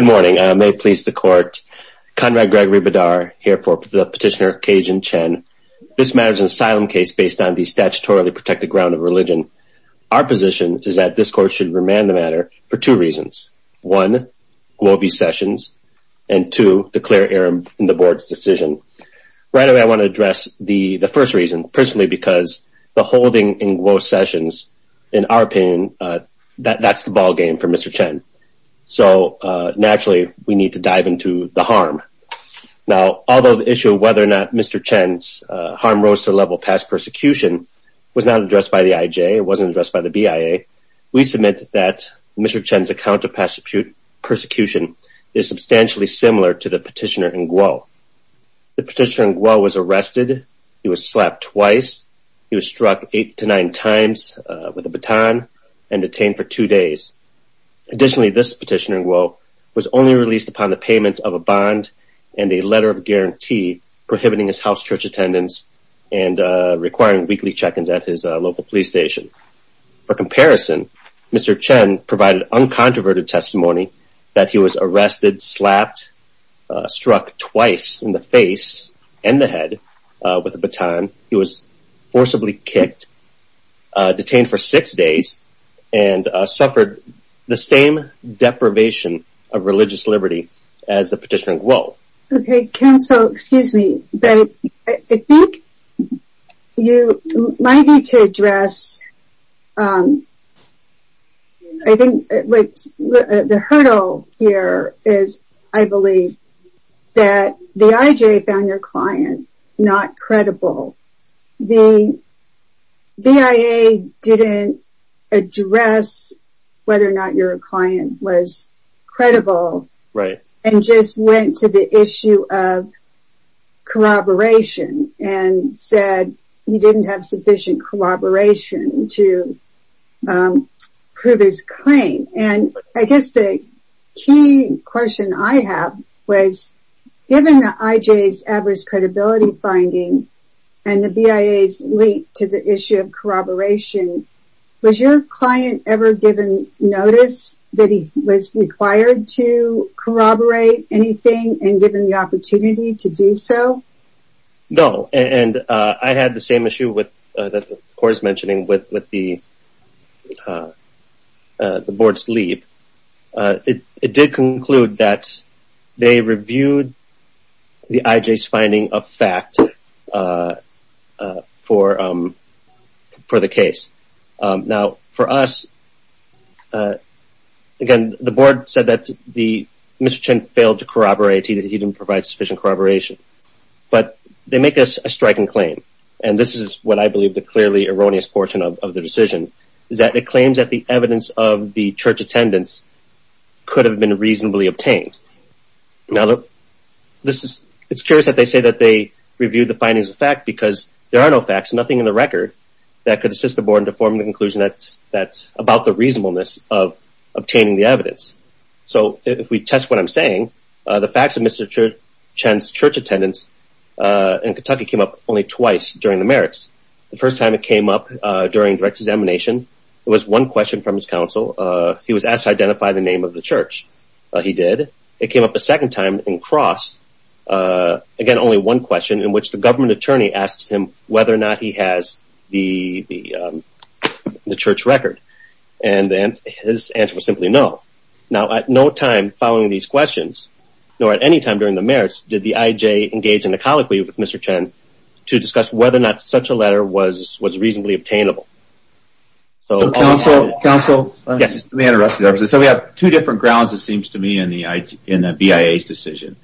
Good morning. May it please the court, Conrad Gregory Badar here for the petitioner Kejin Chen. This matter is an asylum case based on the statutorily protected ground of religion. Our position is that this court should remand the matter for two reasons. One, Guo v. Sessions and two, the clear error in the board's decision. Right away, I want to address the first reason personally because the holding in Guo Sessions, in our opinion, that's the ballgame for Mr. Chen. So naturally, we need to dive into the harm. Now, although the issue of whether or not Mr. Chen's harm rose to the level of past persecution was not addressed by the IJ, it wasn't addressed by the BIA, we submit that Mr. Chen's account of past persecution is substantially similar to the petitioner in Guo. The petitioner in Guo was arrested, he was slapped twice, he was struck eight to nine times with a baton and detained for two days. Additionally, this petitioner in Guo was only released upon the payment of a bond and a letter of guarantee prohibiting his house church attendance and requiring weekly check-ins at his local police station. For comparison, Mr. Chen provided uncontroverted testimony that he was arrested, slapped, struck twice in the face and the head with a baton, he was forcibly kicked, detained for six days and suffered the same deprivation of religious liberty as the petitioner in Guo. Okay, Ken, so excuse me, but I think you, my need to address, I think the hurdle here is, I believe that the IJ found your client not credible. The BIA didn't address whether or not your client was credible and just went to the issue of corroboration and said he didn't have sufficient corroboration to prove his claim. And I guess the key question I have was given the IJ's adverse credibility finding and the BIA's link to the issue of corroboration, was your client ever given notice that he was required to corroborate anything and given the opportunity to do so? No, and I had the same issue with, that Cora's mentioning, with the board's lead. It did conclude that they reviewed the IJ's finding of fact for the case. Now, for us, again, the board said that Mr. Chen failed to provide sufficient corroboration. But they make a striking claim, and this is what I believe the clearly erroneous portion of the decision, is that it claims that the evidence of the church attendance could have been reasonably obtained. Now, it's curious that they say that they reviewed the findings of fact because there are no facts, nothing in the record that could assist the board to form the conclusion that's about the reasonableness of Chen's church attendance in Kentucky came up only twice during the merits. The first time it came up during direct examination, it was one question from his counsel. He was asked to identify the name of the church. He did. It came up a second time in cross. Again, only one question in which the government attorney asks him whether or not he has the church record. And then his answer was simply no. Now, at no time following these questions, nor at any time during the merits, did the IJ engage in a colloquy with Mr. Chen to discuss whether or not such a letter was reasonably obtainable. So counsel, let me interrupt you. So we have two different grounds, it seems to me, in the BIA's decision.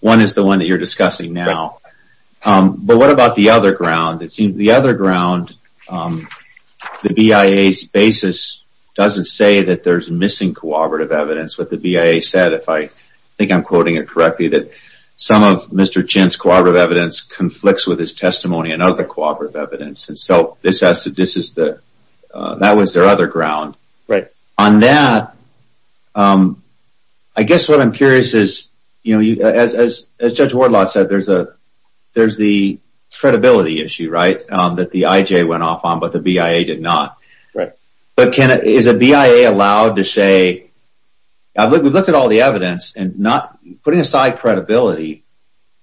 One is the one that you're discussing now. But what about the other ground? It seems the other ground, the BIA's basis doesn't say that there's missing cooperative evidence. What the BIA said, if I think I'm quoting it correctly, that some of Mr. Chen's cooperative evidence conflicts with his testimony and other cooperative evidence. So that was their other ground. On that, I guess what I'm curious is, as Judge Wardlott said, there's the credibility issue, right, that the IJ went off on, but the BIA did not. But is a BIA allowed to say, we've looked at all the evidence, and putting aside credibility,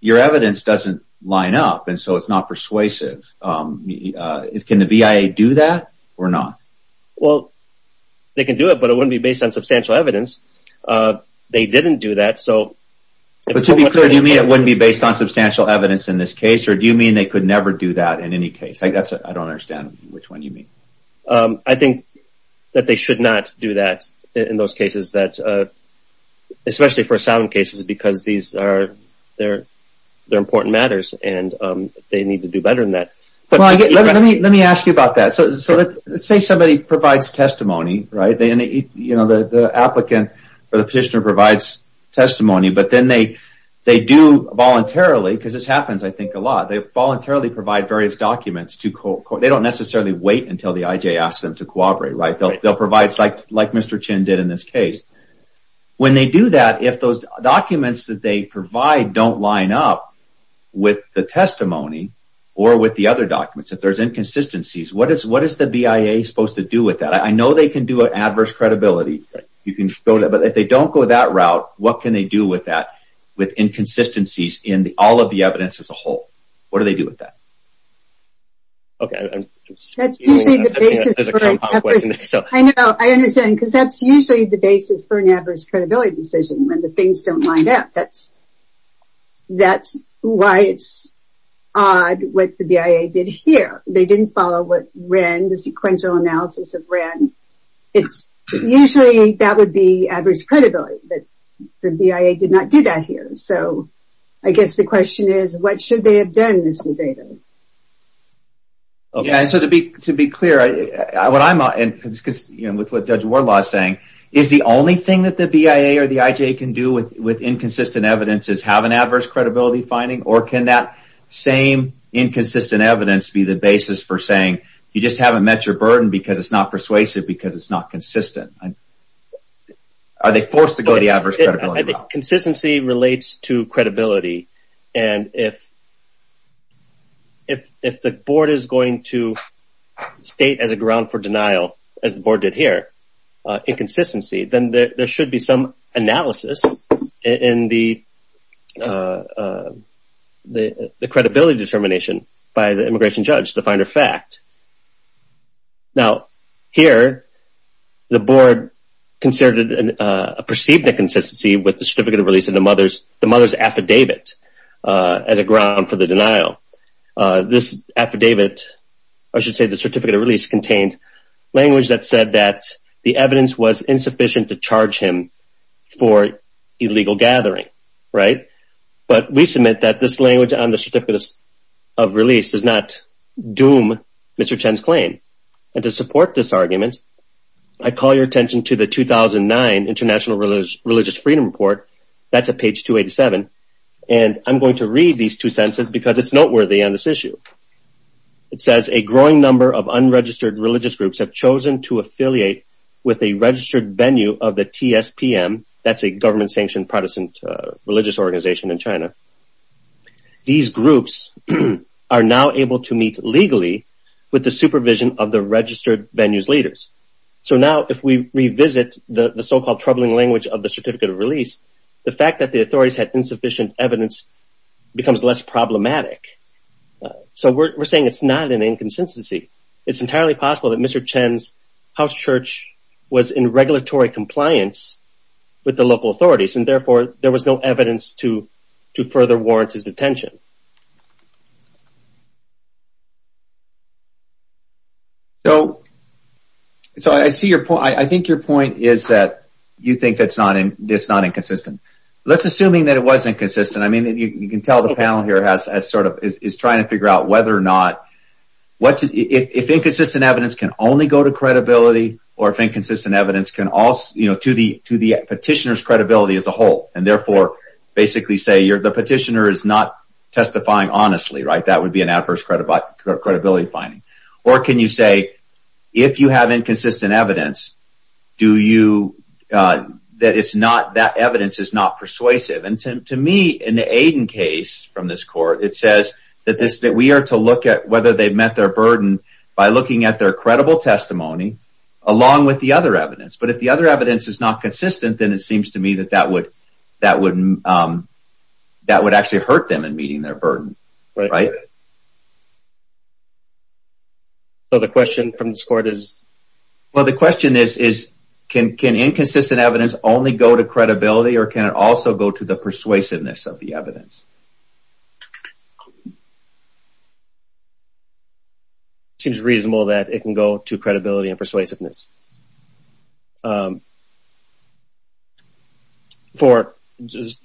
your evidence doesn't line up, and so it's not persuasive. Can the BIA do that or not? Well, they can do it, but it wouldn't be based on substantial evidence. They didn't do that, so... But to be clear, do you mean it wouldn't be based on substantial evidence in this case, or do you mean they could never do that in any case? I don't understand which one you mean. I think that they should not do that in those cases, especially for asylum cases, because these are important matters, and they need to do better than that. Let me ask you about that. So let's say somebody provides testimony, right, and the applicant or the petitioner provides testimony, but then they do voluntarily, because this happens, I think, a lot, they voluntarily provide various documents. They don't necessarily wait until the IJ asks them to cooperate, right? They'll provide, like Mr. Chin did in this case. When they do that, if those documents that they provide don't line up with the testimony or with the other documents, if there's inconsistencies, what is the BIA supposed to do with that? I know they can do with that, with inconsistencies in all of the evidence as a whole. What do they do with that? That's usually the basis for an adverse credibility decision, when the things don't line up. That's why it's odd what the BIA did here. They did not do that here. So I guess the question is, what should they have done in this scenario? Yeah, so to be clear, with what Judge Wardlaw is saying, is the only thing that the BIA or the IJ can do with inconsistent evidence is have an adverse credibility finding, or can that same inconsistent evidence be the basis for saying, you just haven't met your burden because it's not persuasive because it's not consistent? Are they forced to go the adverse credibility route? Consistency relates to credibility. And if the board is going to state as a ground for denial, as the board did here, inconsistency, then there should be some analysis in the credibility determination by the immigration judge to find a fact. Now, here, the board considered a perceived inconsistency with the Certificate of Release and the mother's affidavit as a ground for the denial. This affidavit, or I should say the Certificate of Release, contained language that said that the evidence was insufficient to charge him for illegal gathering. But we submit that this language on the Certificate of Release does not doom Mr. Chen's claim. And to support this argument, I call your attention to the 2009 International Religious Freedom Report. That's at page 287. And I'm going to read these two sentences because it's noteworthy on this issue. It says, a growing number of unregistered religious groups have chosen to affiliate with a registered venue of the TSPM. That's a government-sanctioned Protestant religious organization in China. These groups are now able to meet legally with the supervision of the registered venue's leaders. So now, if we revisit the so-called troubling language of the Certificate of Release, the fact that the authorities had insufficient evidence becomes less problematic. So we're saying it's not an inconsistency. It's entirely possible that Mr. Chen's house church was in regulatory compliance with the local I think your point is that you think it's not inconsistent. Let's assume that it was inconsistent. I mean, you can tell the panel here is trying to figure out whether or not, if inconsistent evidence can only go to credibility, or if inconsistent evidence can also, you know, to the petitioner's credibility as a whole. And therefore, basically say the petitioner is not testifying honestly, right? That would be an adverse credibility finding. Or can you say, if you have inconsistent evidence, that evidence is not persuasive? And to me, in the Aiden case from this court, it says that we are to look at whether they've met their burden by looking at their credible testimony, along with the other evidence. But if the other evidence is not consistent, then it seems to me that that would actually hurt them in meeting their burden, right? So the question from this court is? Well, the question is, can inconsistent evidence only go to credibility, or can it also go to the persuasiveness of the evidence? Seems reasonable that it can go to credibility and persuasiveness. Is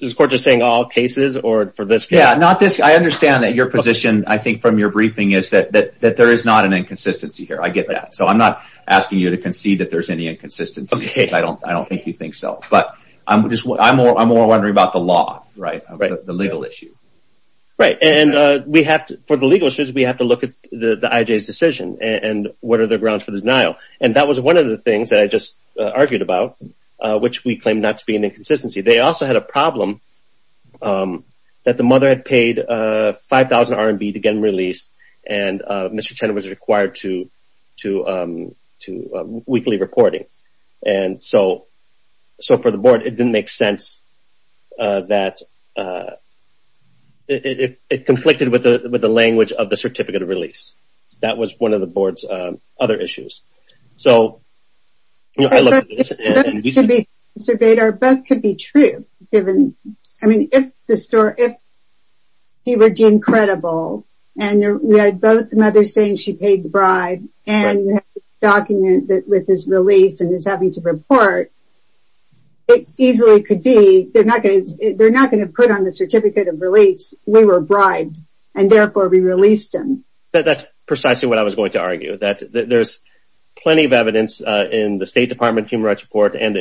this court just saying all cases, or for this case? Yeah, not this, I understand that your position, I think, from your briefing is that there is not an inconsistency here. I get that. So I'm not asking you to concede that there's any inconsistency, because I don't think you think so. But I'm more wondering about the law, right? The legal issue. Right, and for the legal issues, we have to look at the IJ's decision, and what are the grounds for the denial? And that was one of the things that I just argued about, which we claim not to be an inconsistency. They also had a RMB to get them released, and Mr. Chen was required to weekly reporting. And so for the board, it didn't make sense that it conflicted with the language of the And we had both mothers saying she paid the bribe, and the document with his release and his having to report, it easily could be, they're not going to put on the certificate of release, we were bribed, and therefore we released him. That's precisely what I was going to argue, that there's plenty of evidence in the State Department Human Rights Report and the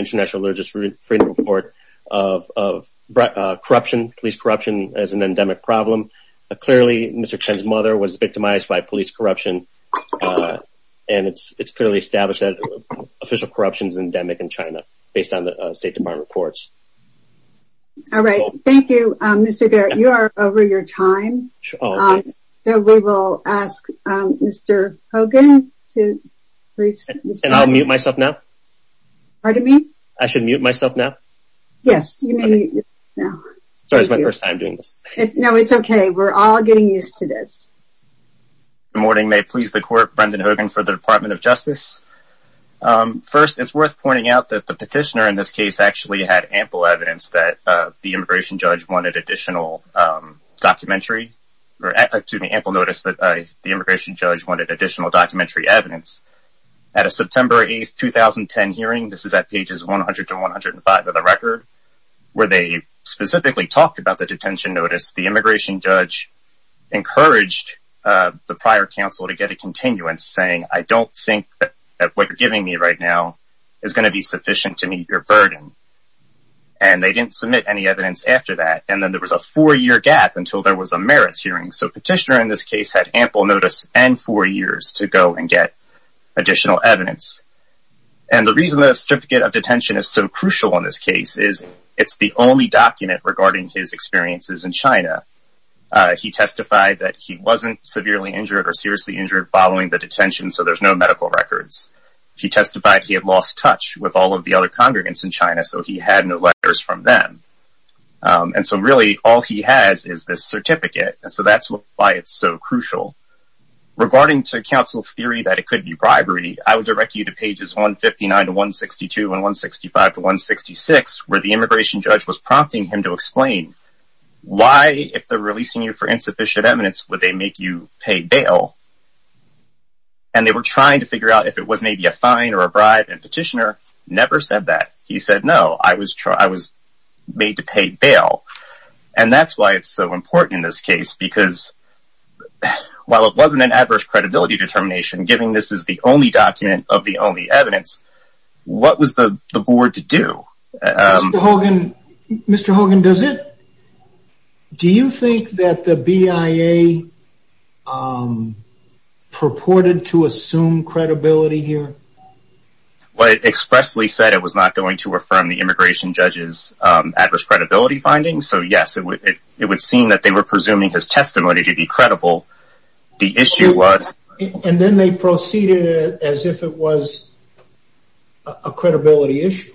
Mr. Chen's mother was victimized by police corruption. And it's it's clearly established that official corruption is endemic in China, based on the State Department reports. All right. Thank you, Mr. Garrett, you are over your time. So we will ask Mr. Hogan to please unmute myself now. Pardon me? I should mute myself now? Yes. Sorry, it's my first time doing this. No, it's okay. We're all getting used to this. Good morning, may it please the court, Brendan Hogan for the Department of Justice. First, it's worth pointing out that the petitioner in this case actually had ample evidence that the immigration judge wanted additional documentary, or excuse me, ample notice that the immigration judge wanted additional documentary evidence. At a September 8, 2010 hearing, this is at pages 100 to 105 of the record, where they specifically talked about the detention notice, the immigration judge encouraged the prior counsel to get a continuance saying, I don't think that what you're giving me right now is going to be sufficient to meet your burden. And they didn't submit any evidence after that. And then there was a four year gap until there was a merits hearing. So petitioner in this case had ample notice and four years to go and get additional evidence. And the reason the certificate of detention is so crucial in this case is, it's the only document regarding his experiences in China. He testified that he wasn't severely injured or seriously injured following the detention, so there's no medical records. He testified he had lost touch with all of the other congregants in China, so he had no letters from them. And so really, all he has is this certificate. And so that's why it's so crucial. Regarding to counsel's theory that it could be bribery, I would direct you to pages 159 to 162 and 165 to 166, where the immigration judge was prompting him to explain why, if they're releasing you for insufficient eminence, would they make you pay bail? And they were trying to figure out if it was maybe a fine or a bribe, and petitioner never said that. He said, no, I was made to pay while it wasn't an adverse credibility determination, given this is the only document of the only evidence, what was the board to do? Mr. Hogan, do you think that the BIA purported to assume credibility here? Well, it expressly said it was not going to affirm the immigration judge's adverse credibility findings. So yes, it would seem that they were presuming his testimony to be credible. The issue was... And then they proceeded as if it was a credibility issue.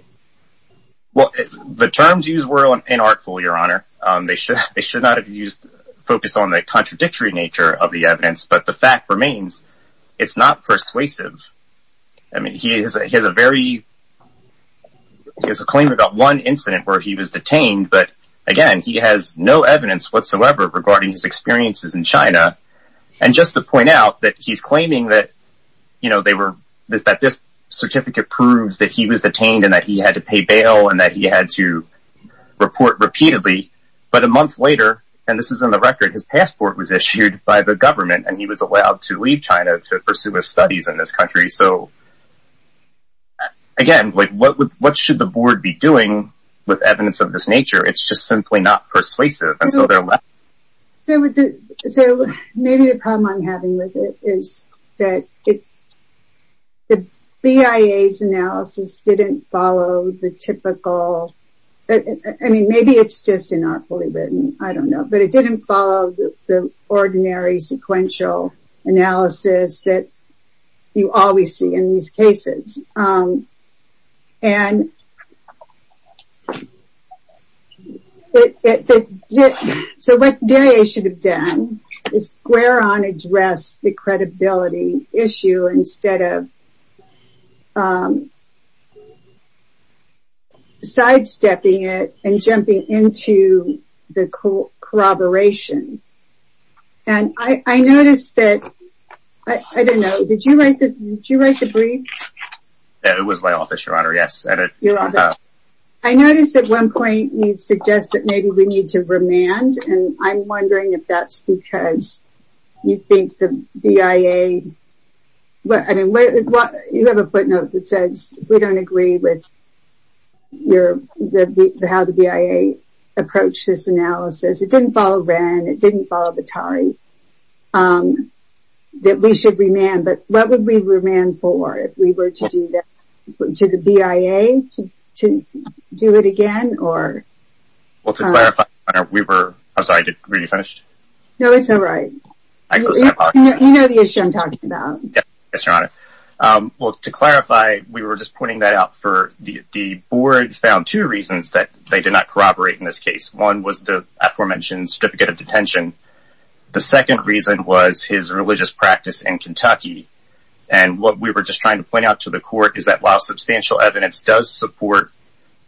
Well, the terms used were inartful, your honor. They should not have focused on the contradictory nature of the evidence. But the fact remains, it's not persuasive. I mean, he has a claim about one again, he has no evidence whatsoever regarding his experiences in China. And just to point out that he's claiming that this certificate proves that he was detained and that he had to pay bail and that he had to report repeatedly. But a month later, and this is on the record, his passport was issued by the government and he was allowed to leave China to pursue his studies in this country. So again, what should the board be doing with evidence of this simply not persuasive? So maybe the problem I'm having with it is that the BIA's analysis didn't follow the typical... I mean, maybe it's just inartfully written, I don't know. But it didn't follow the ordinary sequential analysis that you always see in these cases. And so what BIA should have done is square on address the credibility issue instead of sidestepping it and jumping into the corroboration. And I noticed that, I don't know, did you write this? Did you write the brief? It was my office, Your Honor, yes. I noticed at one point, you suggest that maybe we need to remand. And I'm wondering if that's because you think the BIA... you have a footnote that says, we don't agree with how the BIA approached this analysis. It didn't follow Wren, it didn't follow Batari. That we should remand. But what would we remand for if we were to do that? To the BIA to do it again? Well, to clarify, we were... I'm sorry, are you finished? No, it's all right. You know the issue I'm talking about. Well, to clarify, we were just pointing that out for... the board found two reasons that they did not corroborate in this case. One was the aforementioned certificate of detention. The second reason was his religious practice in Kentucky. And what we were just trying to point out to the court is that while substantial evidence does support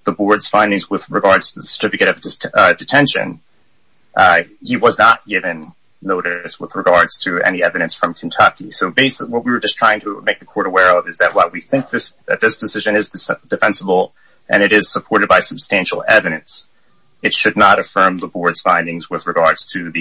the board's findings with regards to the certificate of detention, he was not given notice with regards to any evidence from Kentucky. So basically, what we were just trying to make the court aware of is that while we think that this decision is defensible and it is supported by substantial evidence, it should not affirm the board's findings with regards to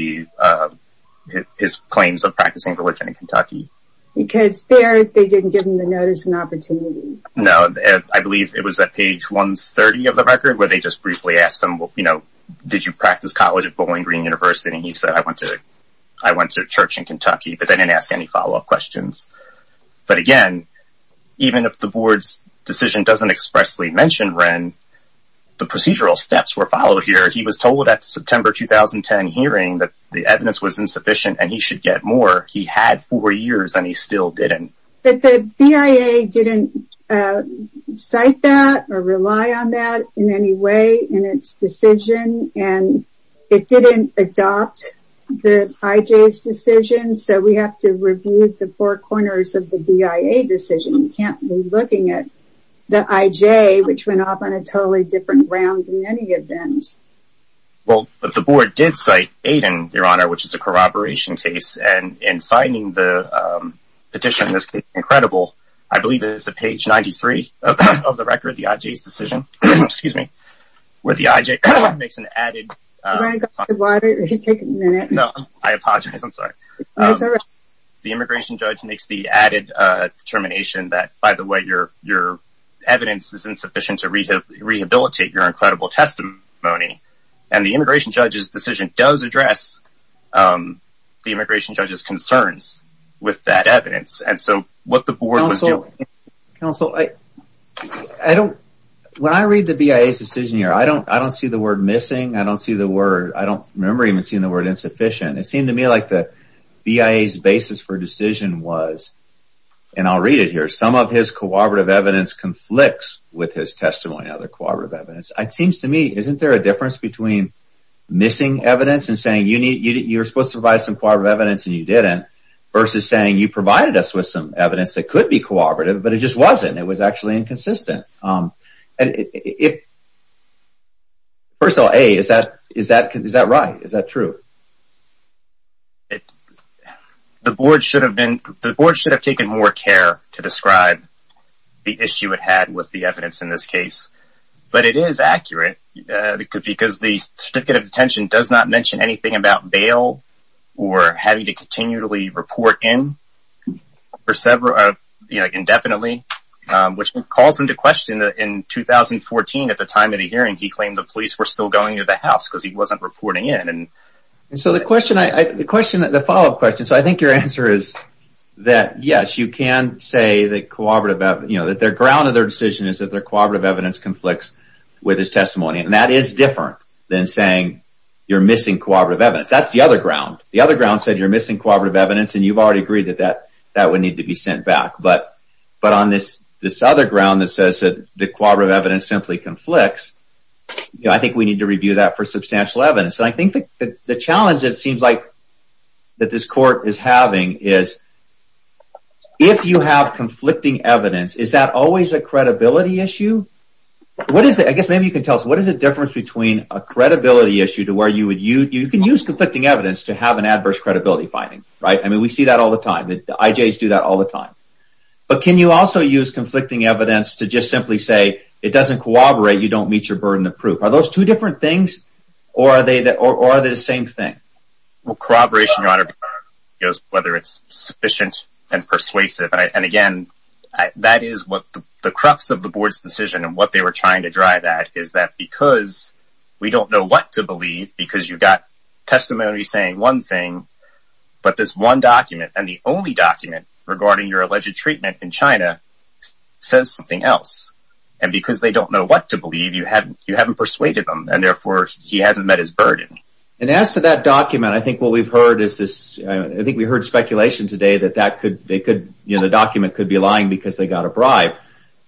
his claims of practicing religion in Kentucky. Because there, they didn't give him the notice and opportunity. No, I believe it was at page 130 of the record where they just briefly asked him, you know, did you practice college at Bowling Green University? And he said, I went to church in Kentucky, but they didn't ask any follow-up questions. But again, even if the board's decision doesn't expressly mention Wren, the procedural steps were followed here. He was told at the September 2010 hearing that the evidence was insufficient and he should get more. He had four years and he still didn't. But the BIA didn't cite that or rely on that in any way in its decision. And it didn't adopt the IJ's decision. So we have to review the four corners of the BIA decision. We can't be looking at the IJ, which went off on a totally different round than any of them. Well, but the board did cite Aiden, Your Honor, which is a corroboration case. And in finding the petition, this is incredible. I believe it's at page 93 of the record, the IJ's decision, excuse me, where the IJ makes an added... Do you want to go to the water? You can take a minute. No, I apologize. I'm sorry. It's all right. The immigration judge makes the added determination that, by the way, your evidence is insufficient to rehabilitate your incredible testimony. And the immigration judge's decision does address the immigration judge's concerns with that evidence. And so what the board was doing... Counsel, I don't... When I read the BIA's decision here, I don't see the word missing. I don't see the word... I don't remember even seeing the word insufficient. It seemed to me like the BIA's basis for decision was, and I'll read it here, some of his corroborative evidence conflicts with his testimony, other corroborative evidence. It seems to me, isn't there a difference between missing evidence and saying you're supposed to provide some corroborative evidence and you didn't, versus saying you provided us with some evidence that could be corroborative, but it just wasn't. It was actually inconsistent. First of all, A, is that right? Is that true? It... The board should have been... The board should have taken more care to describe the issue it had with the evidence in this case. But it is accurate because the certificate of detention does not mention anything about bail or having to continually report in for several... You know, indefinitely, which calls into question that in 2014, at the time of the hearing, he claimed the police were still going to the house because he wasn't reporting in. And so the question I... The follow-up question. So I think your answer is that, yes, you can say that corroborative... You know, that their ground of their decision is that their corroborative evidence conflicts with his testimony. And that is different than saying you're missing corroborative evidence. That's the other ground. The other ground said you're missing corroborative evidence, and you've already agreed that that would need to be sent back. But on this other ground that says that the corroborative evidence simply conflicts, I think we need to review that for substantial evidence. And I think the challenge it seems like that this court is having is if you have conflicting evidence, is that always a credibility issue? What is it? I guess maybe you can tell us, what is the difference between a credibility issue to where you would use... You can use conflicting evidence to have an adverse credibility finding, right? I mean, we see that all the time. The IJs do that all the time. But can you also use conflicting evidence to just simply say it doesn't corroborate, you don't meet your burden of proof? Are those two things, or are they the same thing? Well, corroboration, Your Honor, goes whether it's sufficient and persuasive. And again, that is what the crux of the board's decision and what they were trying to drive at is that because we don't know what to believe, because you've got testimony saying one thing, but this one document and the only document regarding your alleged treatment in China says something else. And because they don't know what to believe, you haven't persuaded them, and therefore, he hasn't met his burden. And as to that document, I think what we've heard is this, I think we heard speculation today that that could, they could, you know, the document could be lying because they got a bribe.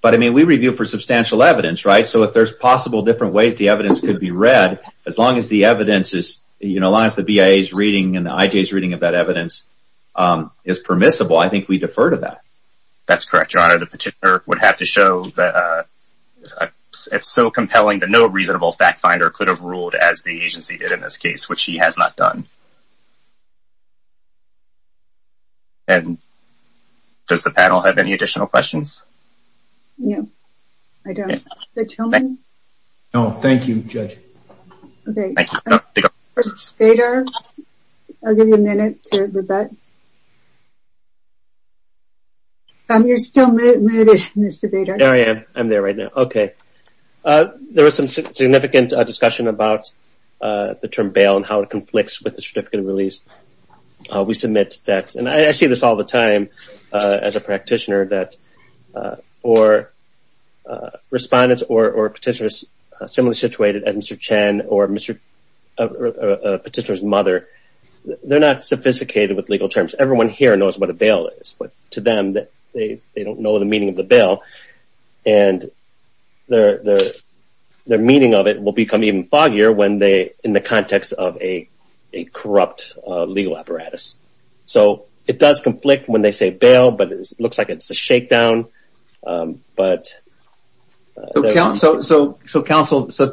But I mean, we review for substantial evidence, right? So if there's possible different ways the evidence could be read, as long as the evidence is, you know, as long as the BIA's reading and the IJ's reading of that evidence is permissible, I think we defer to that. That's correct, Your Honor. The petitioner would have to show that it's so compelling that no reasonable fact finder could have ruled as the agency did in this case, which he has not done. And does the panel have any additional questions? No, I don't. Judge Hillman? No, thank you, Judge. Okay, Mr. Bader, I'll give you a minute to rebut. You're still muted, Mr. Bader. There I am. I'm there right now. Okay. There was some significant discussion about the term bail and how it conflicts with the certificate of release. We submit that, and I see this all the time as a practitioner, that or respondents or petitioners similarly situated at Mr. Chen or Mr. Petitioner's mother, they're not sophisticated with legal terms. Everyone here knows what a bail is, but to them, they don't know the meaning of the bail. And their meaning of it will become even foggier when they, in the context of a corrupt legal apparatus. So it does conflict when they say bail, but it looks like it's a shakedown, but... So counsel,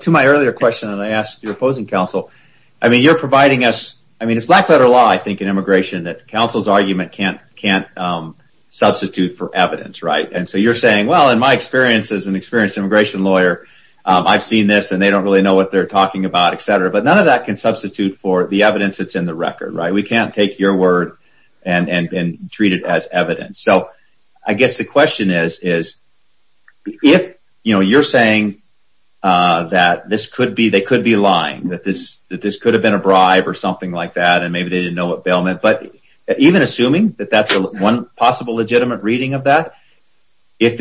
to my earlier question, and I asked your opposing counsel, I mean, you're providing us, I mean, it's black letter law, I think, in immigration that counsel's argument can't substitute for evidence, right? And so you're saying, well, in my experience as an experienced immigration lawyer, I've seen this and they don't really know what they're talking about, etc., but none of that can substitute for the evidence that's in the record, right? We can't take your word and treat it as evidence. So I guess the question is, if, you know, you're saying that this could be, they could be lying, that this could have been a bribe or something like that, and maybe they didn't know what bail meant, but even assuming that that's one possible legitimate reading of that, if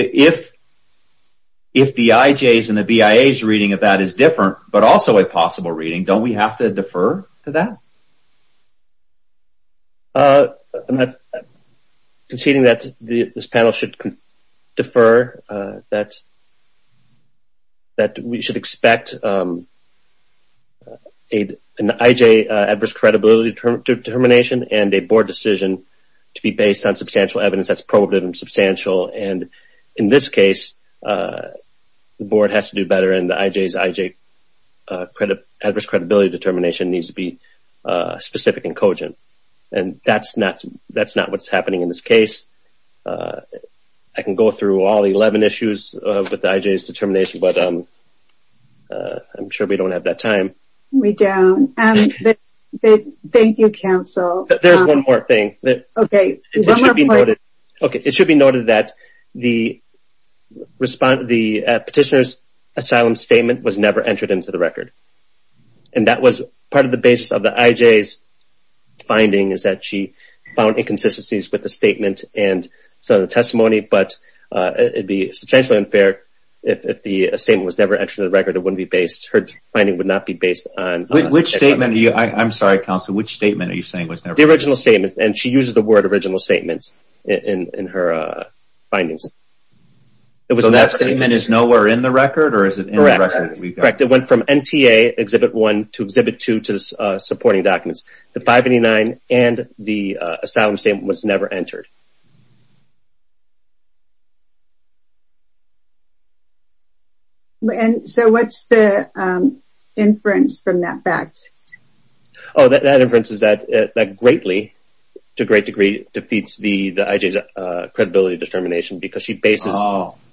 the IJs and the BIAs reading of that is different, but also a possible reading, don't we have to defer to that? I'm not conceding that this panel should defer that that we should expect an IJ adverse credibility determination and a board decision to be based on substantial evidence that's probative and substantial. And in this case, the board has to do better and the IJs IJ adverse credibility determination needs to be specific and cogent. And that's not what's happening in this case. I can go through all 11 issues with the IJs determination, but I'm sure we don't have that time. We don't. Thank you, counsel. There's one more thing. Okay. It should be noted that the petitioner's asylum statement was never entered into the record. And that was part of the basis of the IJs finding is that she found inconsistencies with the statement and some of the testimony, but it'd be substantially unfair if the same was never entered in the record. It wouldn't be based. Her finding would not be based on which statement. I'm sorry, counsel, which statement are you saying was the original statement? And she uses the word original statements in her findings. It was that statement is nowhere in the record or is it correct? It went from NTA exhibit one to exhibit two to supporting documents. The 589 and the asylum statement was never entered. And so what's the inference from that fact? Oh, that inference is that greatly to a great degree defeats the IJs credibility determination because she bases...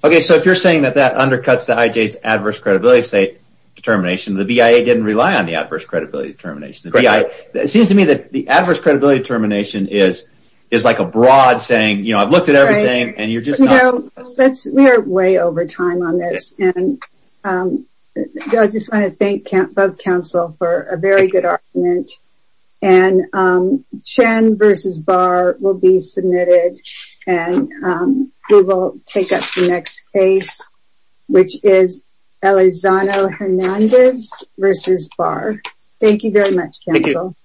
Okay. So if you're saying that that undercuts the IJs adverse credibility determination, the BIA didn't rely on the adverse credibility determination. It seems to me that the adverse credibility determination is like a broad saying, you know, I've looked at everything and you're just not... We are way over time on this and I just want to thank both counsel for a very good argument and Chen versus Barr will be submitted and we will take up the next case, which is Elizondo Hernandez versus Barr. Thank you very much counsel.